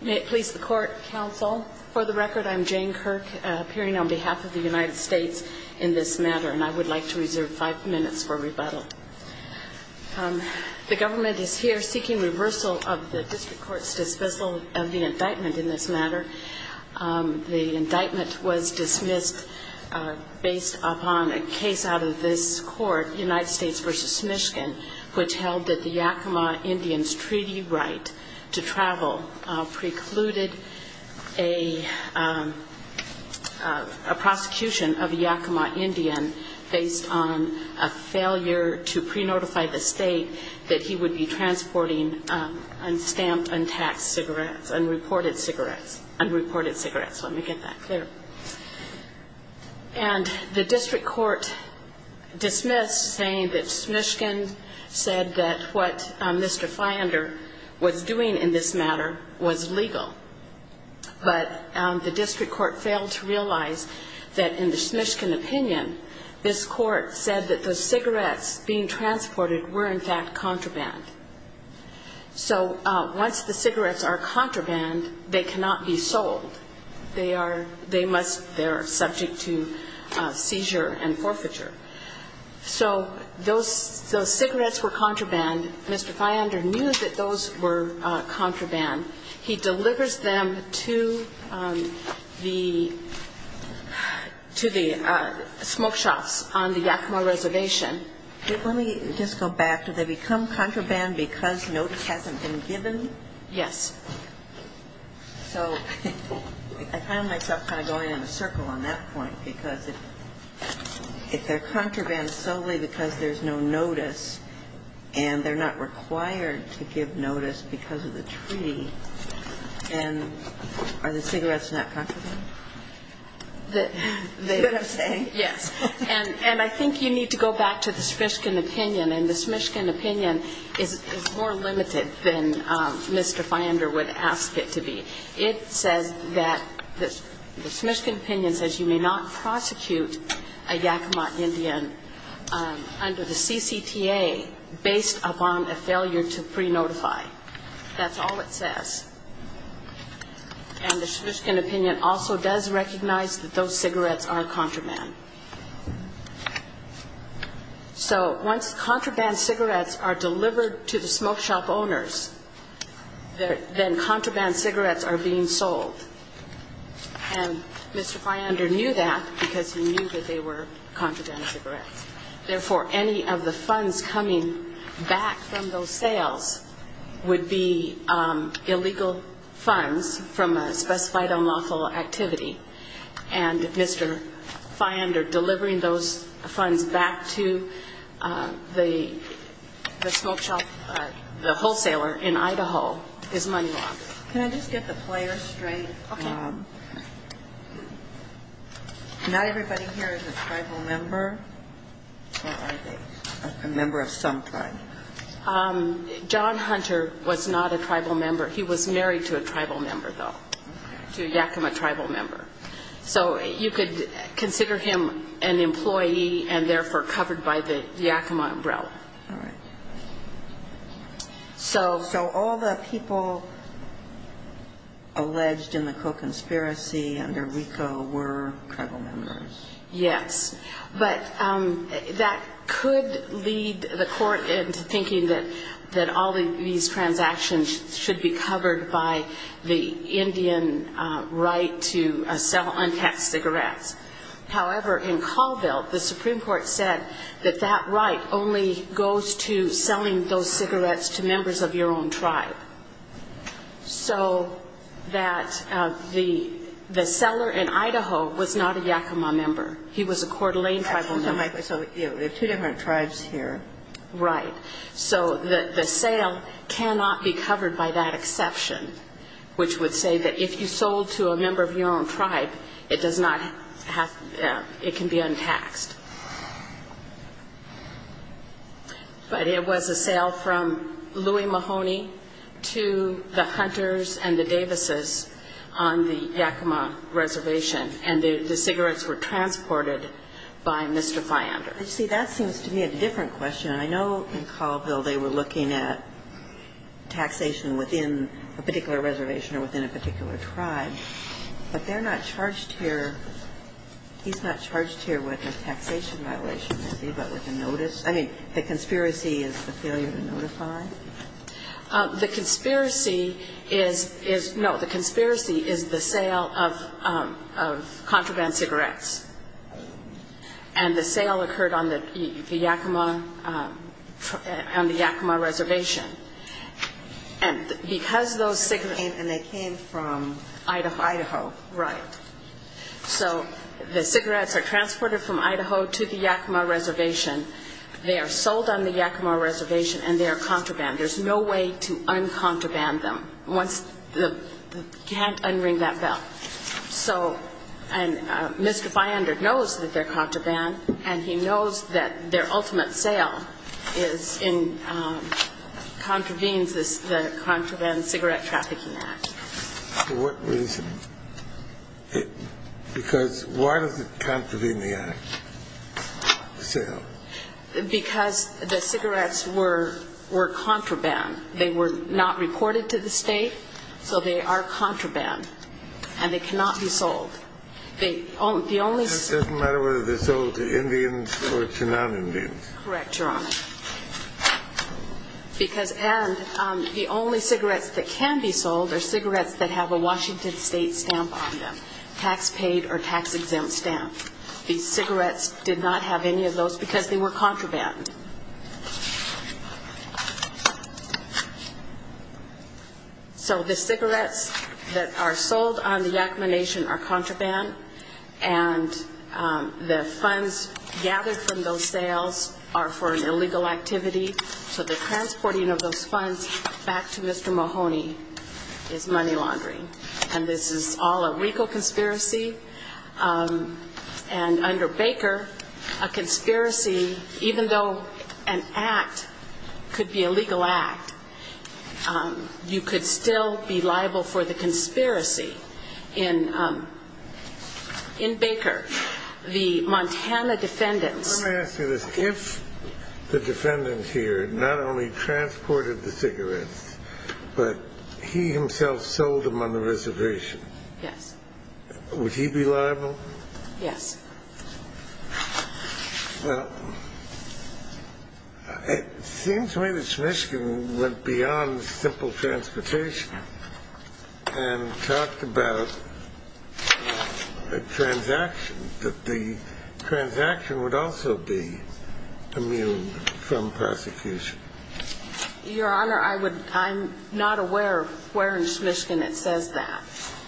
May it please the court, counsel. For the record, I'm Jane Kirk, appearing on behalf of the United States in this matter, and I would like to reserve five minutes for rebuttal. The government is here seeking reversal of the district court's dismissal of the indictment in this matter. The indictment was dismissed based upon a case out of this court, United States v. Fiander, in which an Indian's treaty right to travel precluded a prosecution of a Yakima Indian based on a failure to pre-notify the state that he would be transporting unstamped untaxed cigarettes, unreported cigarettes. Unreported cigarettes, let me get that clear. And the district court dismissed saying that Smishkin said that what Mr. Fiander was doing in this matter was legal. But the district court failed to realize that in the Smishkin opinion, this court said that the cigarettes being transported were in fact contraband. So once the cigarettes are contraband, they cannot be sold. They are, they must, they are subject to seizure and forfeiture. So those cigarettes were contraband. Mr. Fiander knew that those were contraband. He delivers them to the, to the smoke shops on the Yakima reservation. And let me just go back. Do they become contraband because notice hasn't been given? Yes. So I found myself kind of going in a circle on that point, because if they're contraband solely because there's no notice, and they're not required to give notice because of the treaty, then are the cigarettes not contraband? That's what I'm saying, yes. And I think you need to go back to the Smishkin opinion, and the Smishkin opinion is more limited than Mr. Fiander would ask it to be. It says that the Smishkin opinion says you may not prosecute a Yakima Indian under the CCTA based upon a failure to pre-notify. That's all it says. And the Smishkin opinion also does recognize that those cigarettes are contraband. So once contraband cigarettes are delivered to the smoke shop owners, then contraband cigarettes are being sold. And Mr. Fiander knew that because he knew that they were contraband cigarettes. Therefore, any of the funds coming back from those sales would be illegal funds from a specified unlawful activity. And Mr. Fiander delivering those funds back to the smoke shop, the wholesaler in Idaho is money laundering. Can I just get the player straight? Not everybody here is a tribal member, or are they? A member of some tribe? John Hunter was not a tribal member. He was married to a tribal member, though, to a Yakima tribal member. So you could consider him an employee and therefore covered by the Yakima umbrella. All right. So all the people alleged in the co-conspiracy under RICO were tribal members? Yes. But that could lead the court into thinking that all these transactions should be covered by the Indian right to sell untaxed cigarettes. However, in Colville, the Supreme Court said that that right only goes to selling those cigarettes to members of your own tribe. So that the seller in Idaho was not a Yakima member. He was a Coeur d'Alene tribal member. So there are two different tribes here. Right. So the sale cannot be covered by that exception, which would say that if you sold to a member of your own tribe, it can be untaxed. But it was a sale from Louie Mahoney to the Davises on the Yakima reservation. And the cigarettes were transported by Mr. Fyander. You see, that seems to me a different question. I know in Colville they were looking at taxation within a particular reservation or within a particular tribe. But they're not charged here, he's not charged here with a taxation violation, is he, but with a notice? I mean, the conspiracy is the failure to notify? The conspiracy is the sale of contraband cigarettes. And the sale occurred on the Yakima reservation. And because those cigarettes And they came from Idaho. Idaho, right. So the cigarettes are transported from Idaho to the Yakima reservation. They are sold on There's no way to un-contraband them once the, you can't un-ring that bell. So, and Mr. Fyander knows that they're contraband, and he knows that their ultimate sale is in, contravenes the Contraband Cigarette Trafficking Act. For what reason? Because why does it contravene the act, the sale? Because the cigarettes were contraband. They were not reported to the state, so they are contraband. And they cannot be sold. They, the only It doesn't matter whether they're sold to Indians or to non-Indians. Correct, Your Honor. Because, and the only cigarettes that can be sold are cigarettes that have a Washington State stamp on them. Tax paid or tax exempt stamp. These cigarettes did not have any of those because they were contraband. So the cigarettes that are sold on the Yakima Nation are contraband, and the funds gathered from those sales are for an illegal activity. So the transporting of those funds back to Mr. Mahoney is money laundering. And this is all a legal conspiracy. And under Baker, a conspiracy, even though an act could be a legal act, you could still be liable for the conspiracy in Baker. The Montana defendants Let me ask you this. If the defendant here not only transported the cigarettes, but he himself sold them on the reservation, would he be liable? Yes. Well, it seems to me that Smishkin went beyond simple transportation and talked about a transaction, that the transaction would also be immune from prosecution. Your Honor, I would, I'm not aware of where in Smishkin it says that.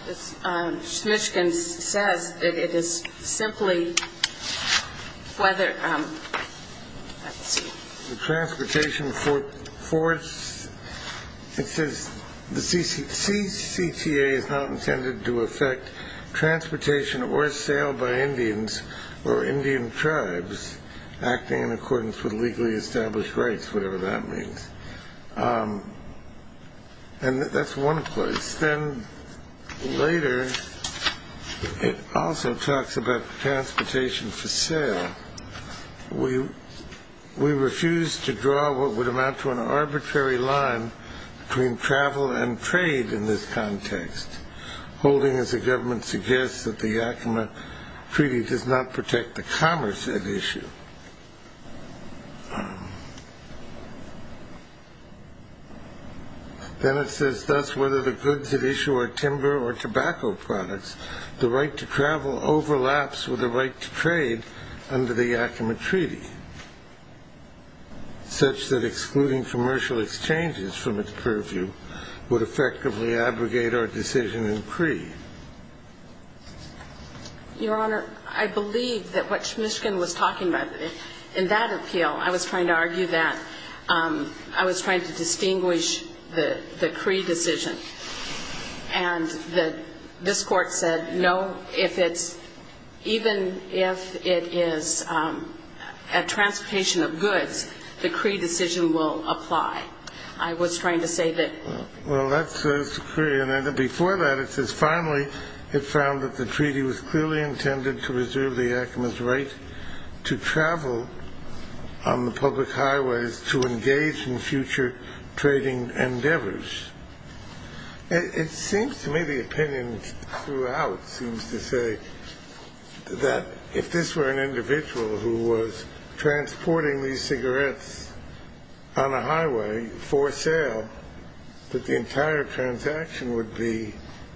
Smishkin says that it is simply whether, let's see. The transportation force, it says the CCTA is not intended to affect transportation or sale by Indians or Indian tribes acting in accordance with legally established rights, whatever that means. And that's one place. Then later, it also talks about transportation for sale. We refuse to draw what would amount to an arbitrary line between travel and trade in this context, holding as the government suggests that the Yakima Treaty does not protect the commerce at issue. Then it says thus, whether the goods at issue are timber or tobacco products, the right to travel overlaps with the right to trade under the Yakima Treaty, such that excluding commercial exchanges from its purview would effectively abrogate our decision in Cree. Your Honor, I believe that what Smishkin was talking about, in that appeal, I was trying to argue that I was trying to distinguish the Cree decision. And this Court said no, if it's, even if it is a transportation of goods, the Cree decision will apply. I was trying to say that. Well, that says to Cree. And before that, it says, finally, it found that the treaty was clearly intended to reserve the Yakima's right to travel on the public highways to engage in future trading endeavors. It seems to me the opinion throughout seems to say that if this were an individual who was transporting these cigarettes on a highway for sale, that the entire transaction would be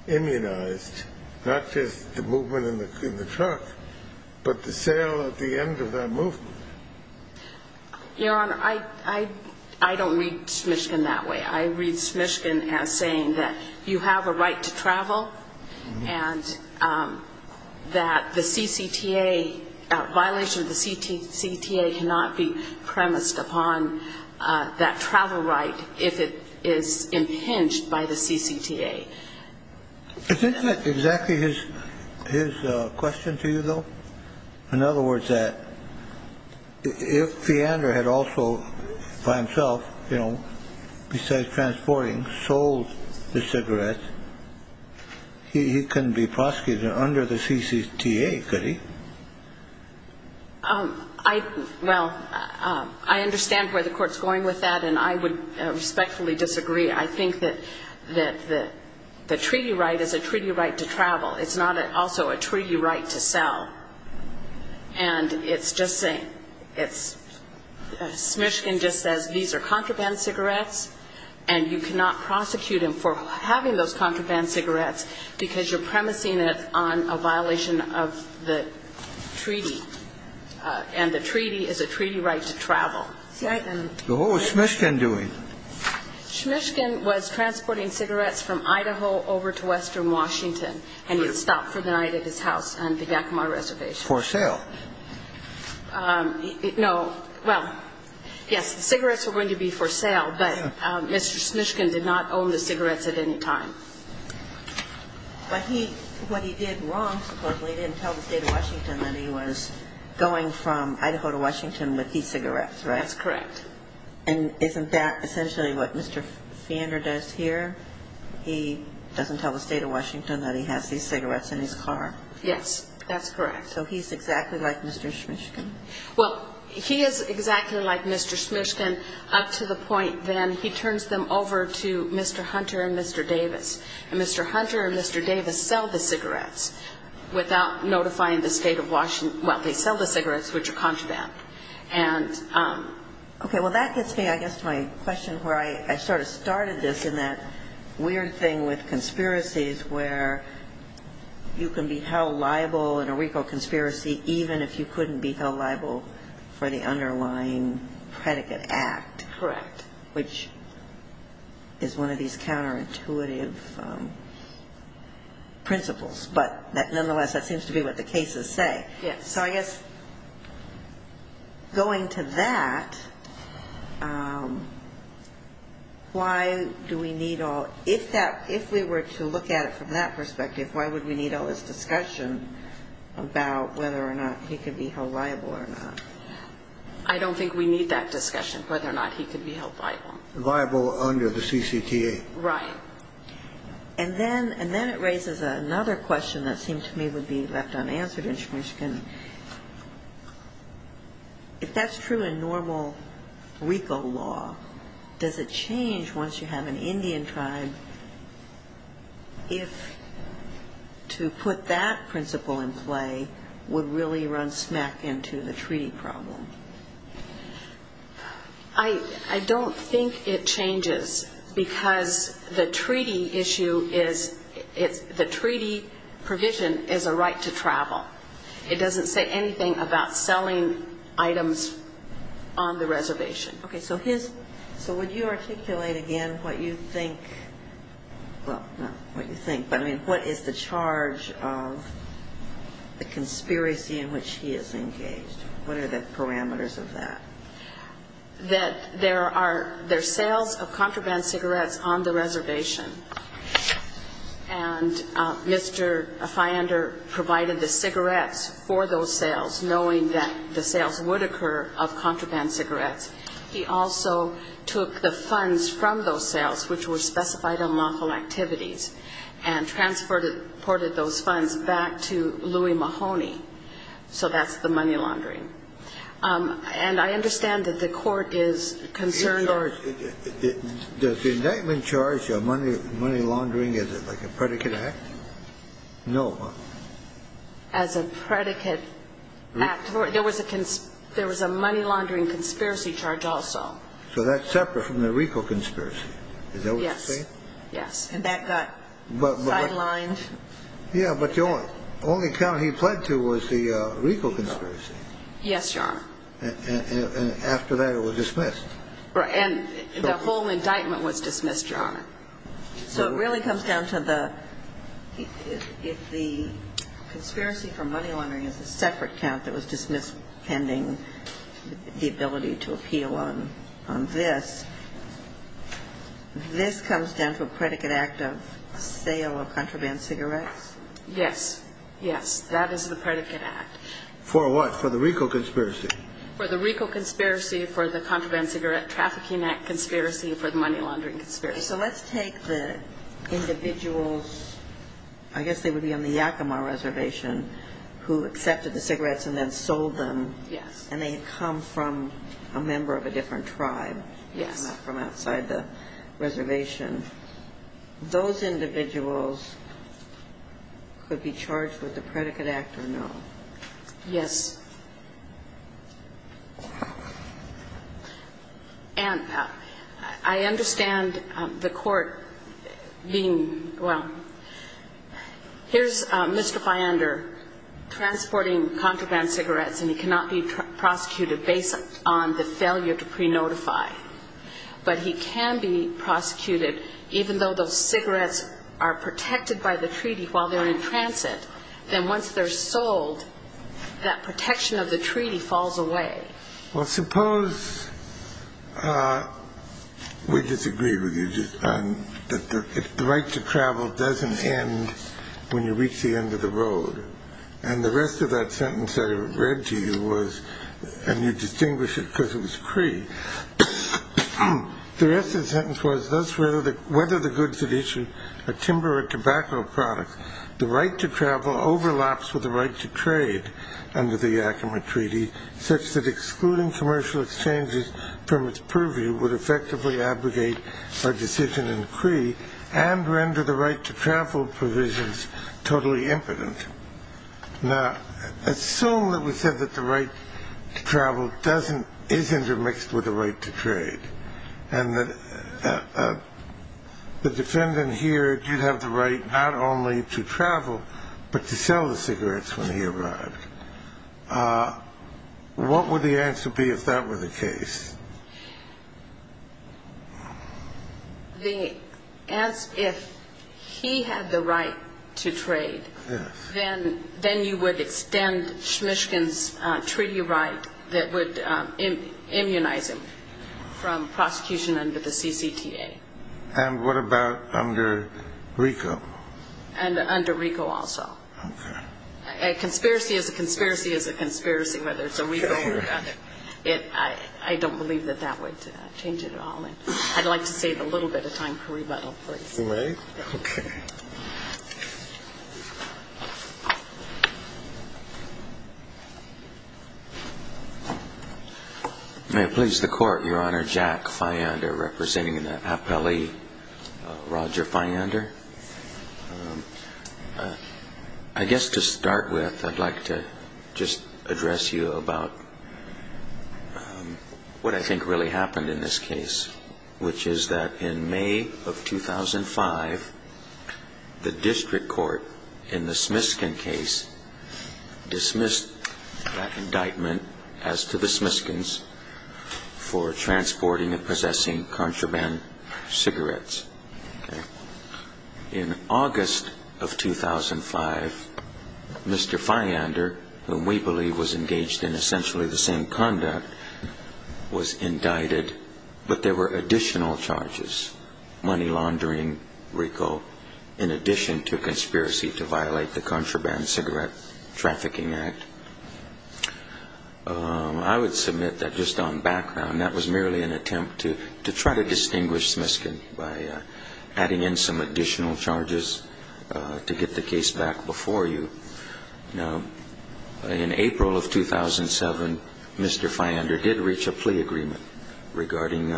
immunized, not just the movement in the truck, but the sale at the end of that movement. Your Honor, I don't read Smishkin that way. I read Smishkin as saying that you have a right to travel and that the CCTA, violation of the CCTA cannot be premised upon that travel right if it is impinged by the CCTA. Isn't that exactly his question to you, though? In other words, that if Feeander had also, by himself, you know, besides transporting, sold the cigarettes, he couldn't be prosecuted under the CCTA, could he? Well, I understand where the Court's going with that, and I would respectfully disagree. I think that the treaty right is a treaty right to travel. It's not also a treaty right to sell. And it's just saying it's – Smishkin just says these are contraband cigarettes, and you cannot prosecute him for having those contraband cigarettes because you're premising it on a violation of the treaty, and the treaty is a treaty right to travel. What was Smishkin doing? Smishkin was transporting cigarettes from Idaho over to western Washington, and he had stopped for the night at his house on the Yakima Reservation. For sale? No. Well, yes, the cigarettes were going to be for sale, but Mr. Smishkin did not own the cigarettes at any time. But he – what he did wrong, supposedly, he didn't tell the State of Washington that he was going from Idaho to Washington with these cigarettes, right? That's correct. And isn't that essentially what Mr. Fander does here? He doesn't tell the State of Washington that he has these cigarettes in his car? Yes, that's correct. So he's exactly like Mr. Smishkin? Well, he is exactly like Mr. Smishkin up to the point then he turns them over to Mr. Hunter and Mr. Davis, and Mr. Hunter and Mr. Davis sell the cigarettes without notifying the State of – well, they sell the cigarettes, which are contraband. Okay. Well, that gets me, I guess, to my question where I sort of started this in that weird thing with conspiracies where you can be held liable in a RICO conspiracy even if you couldn't be held liable for the underlying predicate act. Correct. Which is one of these counterintuitive principles. But nonetheless, that seems to be what the cases say. Yes. So I guess going to that, why do we need all – if we were to look at it from that perspective, why would we need all this discussion about whether or not he could be held liable or not? I don't think we need that discussion, whether or not he could be held liable. Liable under the CCTA. Right. And then it raises another question that seemed to me would be left unanswered, and she can – if that's true in normal RICO law, does it change once you have an Indian tribe if to put that principle in play would really run smack into the treaty problem? I don't think it changes because the treaty issue is – the treaty provision is a right to travel. It doesn't say anything about selling items on the reservation. Okay. So his – so would you articulate again what you think – well, not what you think, but I mean what is the charge of the conspiracy in which he is engaged? What are the parameters of that? That there are – there are sales of contraband cigarettes on the reservation, and Mr. Feyender provided the cigarettes for those sales, knowing that the sales would occur of contraband cigarettes. He also took the funds from those sales, which were specified on lawful activities, and transported those funds back to Louie Mahoney. So that's the money laundering. And I understand that the court is concerned or – Does the indictment charge of money laundering, is it like a predicate act? No. As a predicate act. There was a money laundering conspiracy charge also. So that's separate from the RICO conspiracy. Yes. Is that what you're saying? Yes. And that got sidelined? Yeah, but the only count he pled to was the RICO conspiracy. Yes, Your Honor. And after that, it was dismissed. And the whole indictment was dismissed, Your Honor. So it really comes down to the – if the conspiracy for money laundering is a separate count that was dismissed pending the ability to appeal on this, this comes down to a predicate act of sale of contraband cigarettes? Yes. Yes. That is the predicate act. For what? For the RICO conspiracy? For the RICO conspiracy, for the contraband cigarette trafficking act conspiracy, for the money laundering conspiracy. So let's take the individuals – I guess they would be on the Yakima Reservation who accepted the cigarettes and then sold them. Yes. And they had come from a member of a different tribe. Yes. Not from outside the reservation. Those individuals could be charged with the predicate act or no. Yes. And I understand the court being – well, here's Mr. Fyander transporting contraband cigarettes and he cannot be prosecuted based on the failure to pre-notify. But he can be prosecuted even though those cigarettes are protected by the treaty while they're in transit. Then once they're sold, that protection of the treaty falls away. Well, suppose – we disagree with you – that the right to travel doesn't end when you reach the end of the road. And the rest of that sentence I read to you was – and you distinguish it because it was Cree. The rest of the sentence was, thus whether the goods had issued a timber or tobacco product, the right to travel overlaps with the right to trade under the Yakima Treaty such that excluding commercial exchanges from its purview would effectively abrogate a decision in Cree and render the right to travel provisions totally impotent. Now, assume that we said that the right to travel is intermixed with the right to trade and that the defendant here did have the right not only to travel but to sell the cigarettes when he arrived. What would the answer be if that were the case? If he had the right to trade, then you would extend Shmishkin's treaty right that would immunize him from prosecution under the CCTA. And what about under RICO? And under RICO also. A conspiracy is a conspiracy is a conspiracy, whether it's a RICO or another. I don't believe that that would change it at all. I'd like to save a little bit of time for rebuttal, please. You may. Okay. May it please the Court, Your Honor. Jack Fyander representing the appellee, Roger Fyander. I guess to start with, I'd like to just address you about what I think really happened in this case, which is that in May of 2005, the district court in the Shmishkin case dismissed that indictment as to the Shmishkins for transporting and possessing contraband cigarettes. In August of 2005, Mr. Fyander, whom we believe was engaged in essentially the same conduct, was indicted, but there were additional charges, money laundering, RICO, in addition to conspiracy to violate the Contraband Cigarette Trafficking Act. I would submit that just on background, that was merely an attempt to try to distinguish Shmishkin by adding in some additional charges to get the case back before you. Now, in April of 2007, Mr. Fyander did reach a plea agreement regarding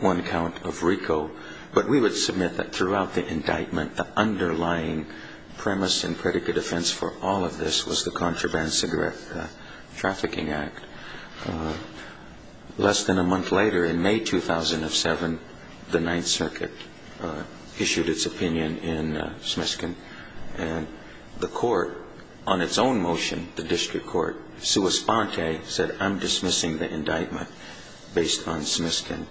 one count of RICO, but we would submit that throughout the indictment, the underlying premise and predicate offense for all of this was the Contraband Cigarette Trafficking Act. Less than a month later, in May 2007, the Ninth Circuit issued its opinion in Shmishkin, and the court on its own motion, the district court, sua sponte, said, I'm dismissing the indictment based on Shmishkin.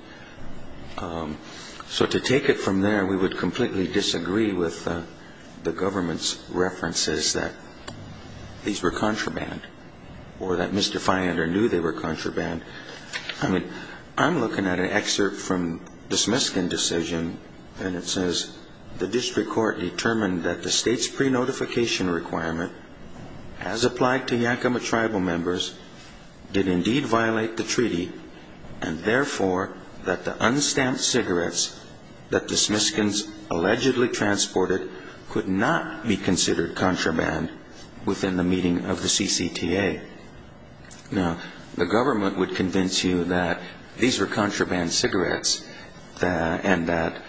So to take it from there, we would completely disagree with the government's references that these were contraband, or that Mr. Fyander knew they were contraband. I mean, I'm looking at an excerpt from the Shmishkin decision, and it says, the district court determined that the state's pre-notification requirement, as applied to Yakima tribal members, did indeed violate the treaty, and therefore that the unstamped cigarettes that the Shmishkins allegedly transported could not be considered contraband within the meeting of the CCTA. Now, the government would convince you that these were contraband cigarettes, and that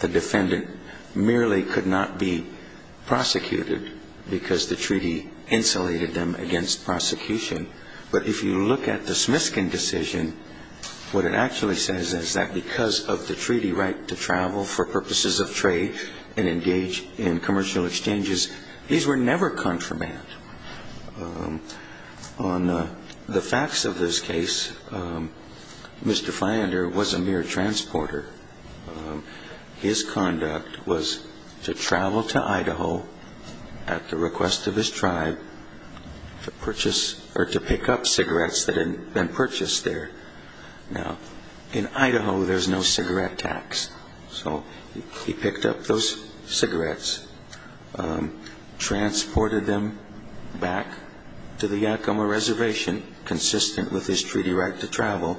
the defendant merely could not be prosecuted, because the treaty insulated them against prosecution. But if you look at the Shmishkin decision, what it actually says is that because of the treaty right to travel for purposes of trade and engage in commercial exchanges, these were never contraband. On the facts of this case, Mr. Fyander was a mere transporter. His conduct was to travel to Idaho at the request of his tribe to purchase, or to pick up cigarettes that had been purchased there. Now, in Idaho, there's no cigarette tax. So he picked up those cigarettes, transported them back to the Yakima reservation, consistent with his treaty right to travel.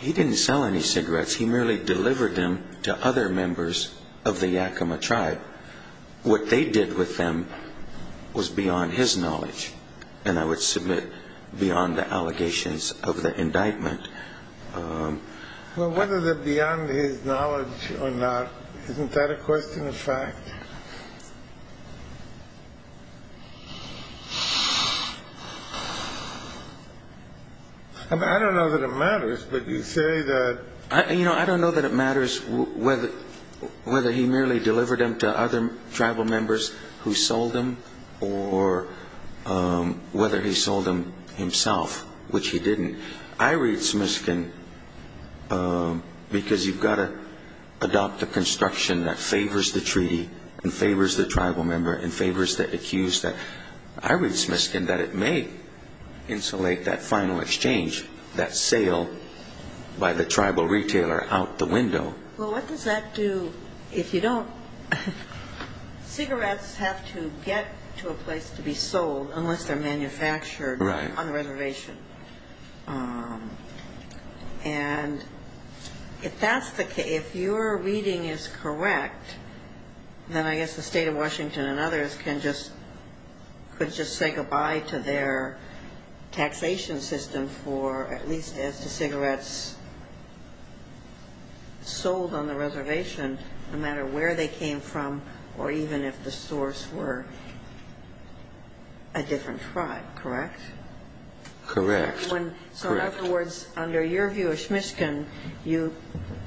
He didn't sell any cigarettes. He merely delivered them to other members of the Yakima tribe. What they did with them was beyond his knowledge, and I would submit beyond the allegations of the indictment. Well, whether they're beyond his knowledge or not, isn't that a question of fact? I mean, I don't know that it matters, but you say that... You know, I don't know that it matters whether he merely delivered them to other tribal members who sold them or whether he sold them himself, which he didn't. I read Smiskin because you've got to adopt a construction that favors the treaty and favors the tribal member and favors the accused. I read Smiskin that it may insulate that final exchange, that sale by the tribal retailer, out the window. Well, what does that do if you don't... Cigarettes have to get to a place to be sold unless they're manufactured on the reservation. And if that's the case, if your reading is correct, then I guess the state of Washington and others could just say goodbye to their taxation system for, at least as to cigarettes sold on the reservation, no matter where they came from or even if the source were a different tribe, correct? Correct. So in other words, under your view of Smiskin, you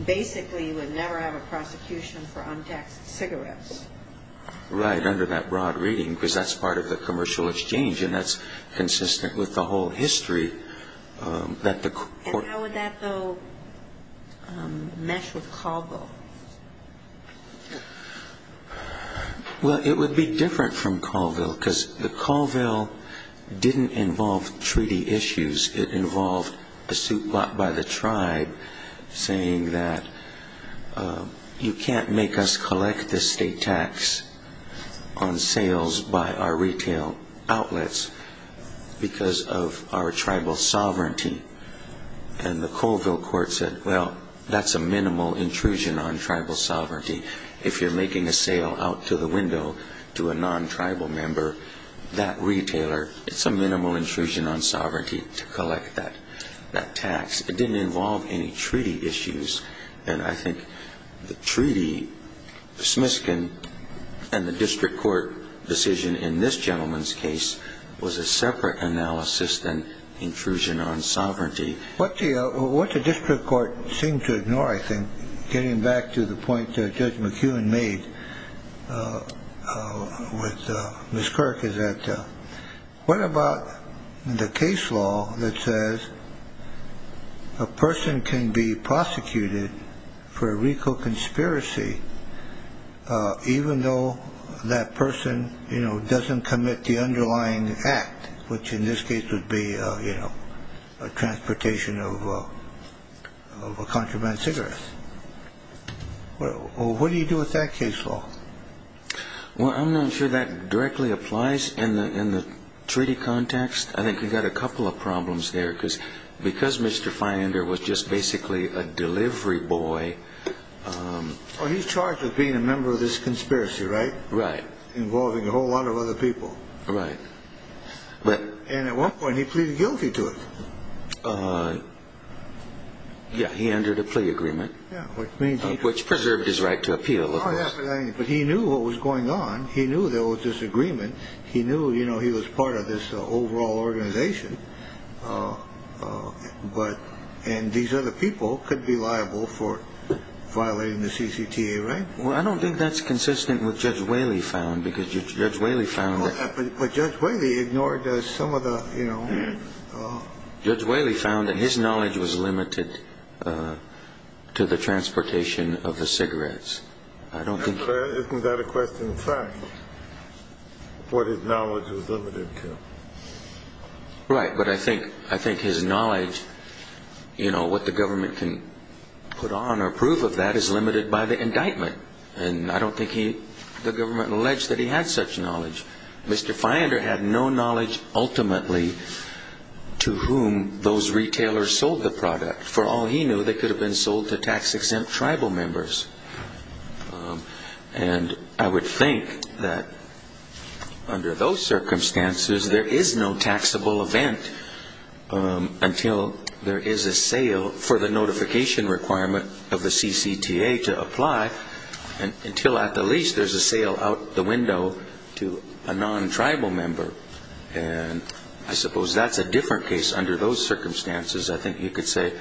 basically would never have a prosecution for untaxed cigarettes. Right, under that broad reading, because that's part of the commercial exchange and that's consistent with the whole history that the court... And how would that, though, mesh with Colville? Well, it would be different from Colville, because Colville didn't involve treaty issues. It involved a suit brought by the tribe saying that you can't make us collect the state tax on sales by our retail outlets because of our tribal sovereignty. And the Colville court said, well, that's a minimal intrusion on tribal sovereignty. If you're making a sale out to the window to a non-tribal member, that retailer, it's a minimal intrusion on sovereignty to collect that tax. It didn't involve any treaty issues. And I think the treaty, Smiskin, and the district court decision in this gentleman's case was a separate analysis than intrusion on sovereignty. What the district court seemed to ignore, I think, getting back to the point Judge McKeown made with Ms. Kirk, is that what about the case law that says a person can be prosecuted for a RICO conspiracy even though that person doesn't commit the underlying act, which in this case would be a transportation of a contraband cigarette? What do you do with that case law? Well, I'm not sure that directly applies in the treaty context. I think you've got a couple of problems there because Mr. Feyender was just basically a delivery boy. Well, he's charged with being a member of this conspiracy, right? Right. Involving a whole lot of other people. Right. And at one point he pleaded guilty to it. Yeah, he entered a plea agreement. Which preserved his right to appeal. But he knew what was going on. He knew there was this agreement. He knew he was part of this overall organization. And these other people could be liable for violating the CCTA, right? Well, I don't think that's consistent with what Judge Whaley found because Judge Whaley found that... But Judge Whaley ignored some of the... Isn't that a question of fact, what his knowledge was limited to? Right, but I think his knowledge, you know, what the government can put on or prove of that is limited by the indictment. And I don't think the government alleged that he had such knowledge. Mr. Feyender had no knowledge ultimately to whom those retailers sold the product. For all he knew, they could have been sold to tax-exempt tribal members. And I would think that under those circumstances there is no taxable event until there is a sale for the notification requirement of the CCTA to apply. And until at the least there's a sale out the window to a non-tribal member. And I suppose that's a different case under those circumstances. I think you could say it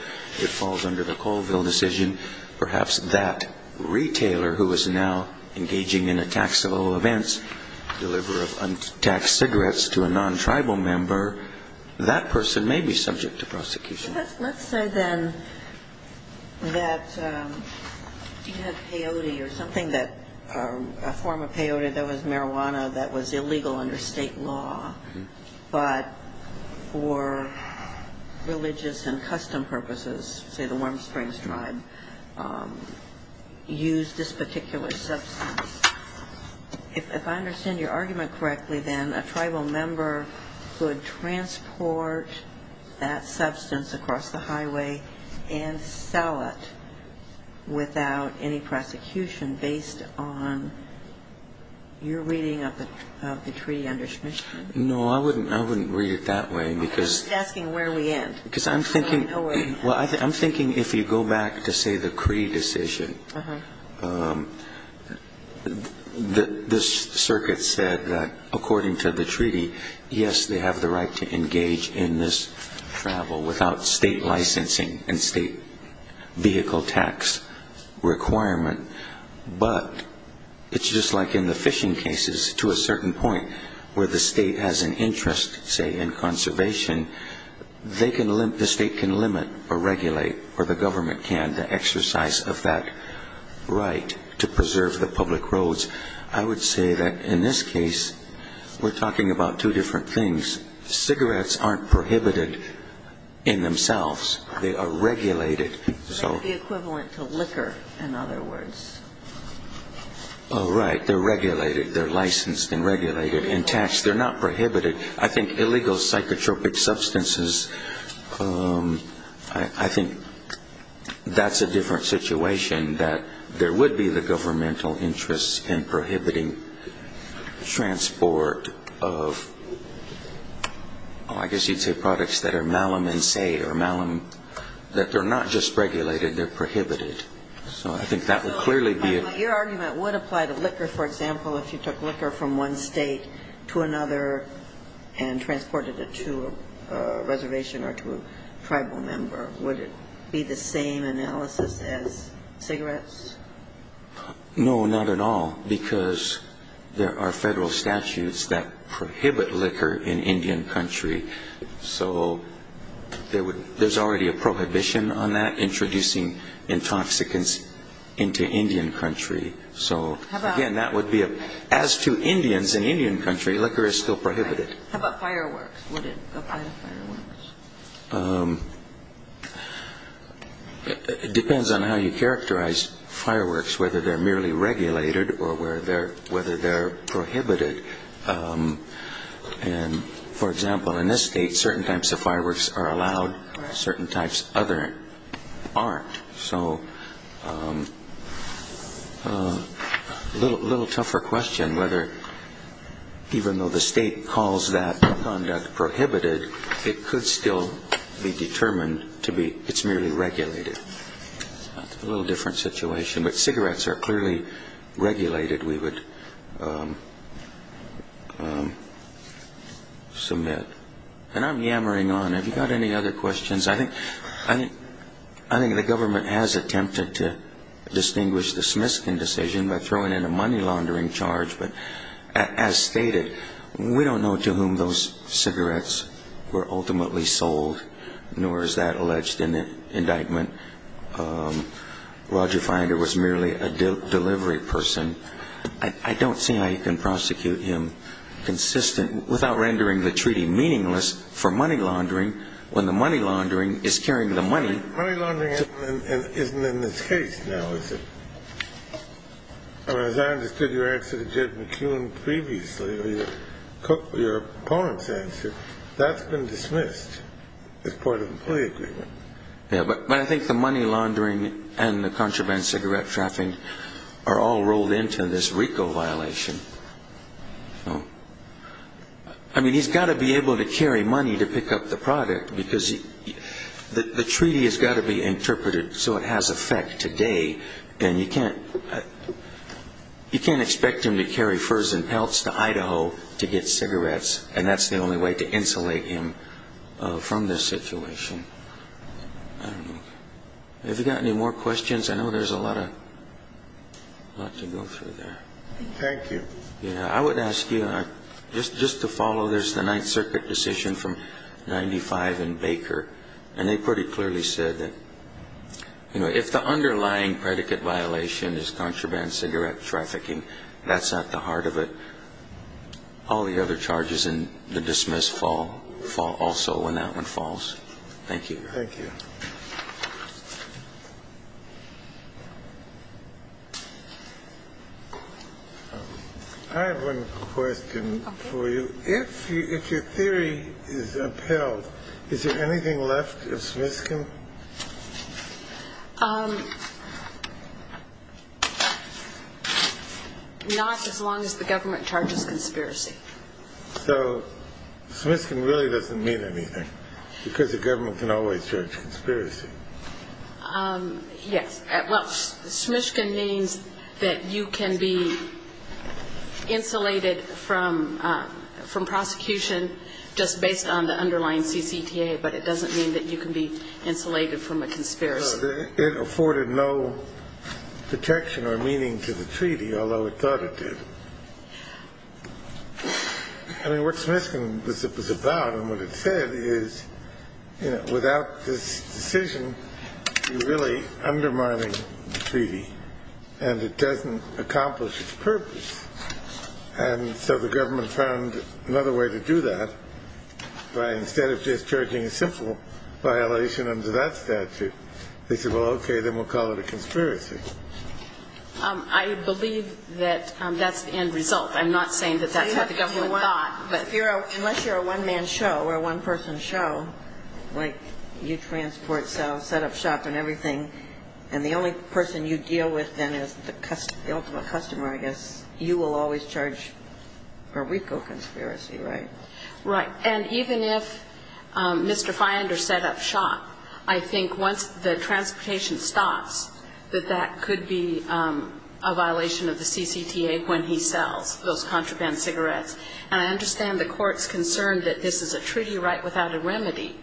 falls under the Colville decision. Perhaps that retailer who is now engaging in a taxable event, deliver of untaxed cigarettes to a non-tribal member, that person may be subject to prosecution. Let's say then that you have peyote or something that... A form of peyote that was marijuana that was illegal under state law. But for religious and custom purposes, say the Warm Springs tribe, use this particular substance. If I understand your argument correctly then, a tribal member could transport that substance across the highway and sell it without any prosecution based on your reading of the treaty under submission. No, I wouldn't read it that way. He's asking where we end. I'm thinking if you go back to say the Cree decision, this circuit said that according to the treaty, yes, they have the right to engage in this travel without state licensing and state vehicle tax requirement. But it's just like in the fishing cases to a certain point where the state has an interest, say, in conservation, the state can limit or regulate, or the government can, the exercise of that right to preserve the public roads. I would say that in this case, we're talking about two different things. Cigarettes aren't prohibited in themselves. They are regulated. Like the equivalent to liquor, in other words. Oh, right, they're regulated. They're licensed and regulated and taxed. They're not prohibited. I think illegal psychotropic substances, I think that's a different situation. that there would be the governmental interest in prohibiting transport of, oh, I guess you'd say products that are malum and say, or malum, that they're not just regulated, they're prohibited. So I think that would clearly be a. Your argument would apply to liquor, for example, if you took liquor from one state to another and transported it to a reservation or to a tribal member. Would it be the same analysis as cigarettes? No, not at all, because there are federal statutes that prohibit liquor in Indian country. So there's already a prohibition on that, introducing intoxicants into Indian country. So, again, that would be, as to Indians in Indian country, liquor is still prohibited. How about fireworks? Would it apply to fireworks? It depends on how you characterize fireworks, whether they're merely regulated or whether they're prohibited. And, for example, in this state, certain types of fireworks are allowed. Certain types other aren't. So a little tougher question whether, even though the state calls that conduct prohibited, it could still be determined to be, it's merely regulated. A little different situation. But cigarettes are clearly regulated, we would submit. And I'm yammering on. Have you got any other questions? I think the government has attempted to distinguish the Smiskin decision by throwing in a money laundering charge. But as stated, we don't know to whom those cigarettes were ultimately sold, nor is that alleged in the indictment. Roger Finder was merely a delivery person. I don't see how you can prosecute him consistent, without rendering the treaty meaningless for money laundering, when the money laundering is carrying the money. Money laundering isn't in this case now, is it? As I understood your answer to Judge McKeown previously, or your opponent's answer, that's been dismissed as part of the plea agreement. Yeah, but I think the money laundering and the contraband cigarette trafficking are all rolled into this RICO violation. I mean, he's got to be able to carry money to pick up the product, because the treaty has got to be interpreted so it has effect today. And you can't expect him to carry furs and pelts to Idaho to get cigarettes, and that's the only way to insulate him from this situation. Have you got any more questions? I know there's a lot to go through there. Thank you. I would ask you, just to follow this, the Ninth Circuit decision from 1995 in Baker, and they pretty clearly said that if the underlying predicate violation is contraband cigarette trafficking, that's at the heart of it. All the other charges in the dismiss fall also when that one falls. Thank you. Thank you. I have one question for you. Okay. If your theory is upheld, is there anything left of Smishkin? Not as long as the government charges conspiracy. So Smishkin really doesn't mean anything, because the government can always charge conspiracy. Yes. Well, Smishkin means that you can be insulated from prosecution just based on the underlying CCTA, but it doesn't mean that you can be insulated from a conspiracy. It afforded no protection or meaning to the treaty, although it thought it did. I mean, what Smishkin was about and what it said is, you know, without this decision, you're really undermining the treaty, and it doesn't accomplish its purpose. And so the government found another way to do that by instead of just charging a simple violation under that statute, they said, well, okay, then we'll call it a conspiracy. I believe that that's the end result. I'm not saying that that's what the government thought. Unless you're a one-man show or a one-person show, like you transport, sell, set up shop and everything, and the only person you deal with then is the ultimate customer, I guess, you will always charge for RICO conspiracy, right? Right. And even if Mr. Feinder set up shop, I think once the transportation stops, that that could be a violation of the CCTA when he sells those contraband cigarettes. And I understand the court's concern that this is a treaty right without a remedy,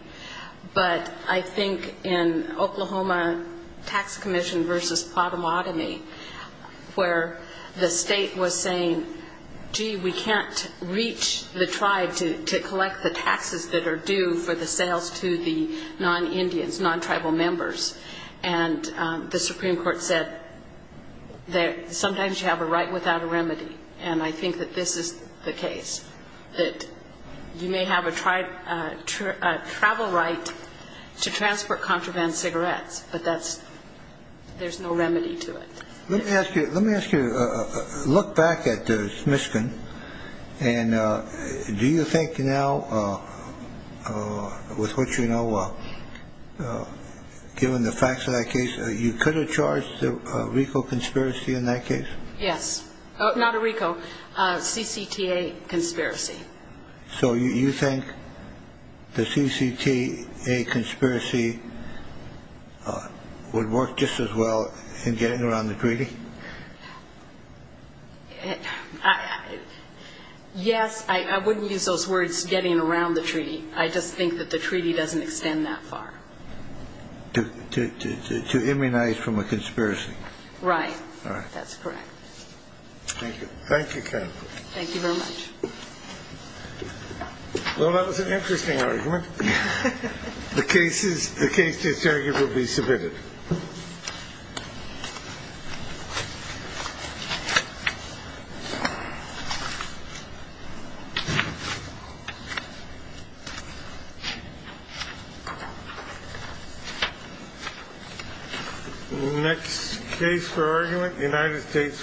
but I think in Oklahoma Tax Commission v. Potomotomy, where the state was saying, gee, we can't reach the tribe to collect the taxes that are due for the sales to the non-Indians, non-tribal members, and the Supreme Court said that sometimes you have a right without a remedy. And I think that this is the case, that you may have a travel right to transport contraband cigarettes, but there's no remedy to it. Let me ask you, look back at the Smishkin, and do you think now, with what you know, given the facts of that case, you could have charged RICO conspiracy in that case? Yes. Not RICO, CCTA conspiracy. So you think the CCTA conspiracy would work just as well in getting around the treaty? Yes. I wouldn't use those words, getting around the treaty. I just think that the treaty doesn't extend that far. To immunize from a conspiracy. Right. That's correct. Thank you. Thank you very much. Well, that was an interesting argument. The case is arguably submitted. Next case for argument, United States v. Juvenile.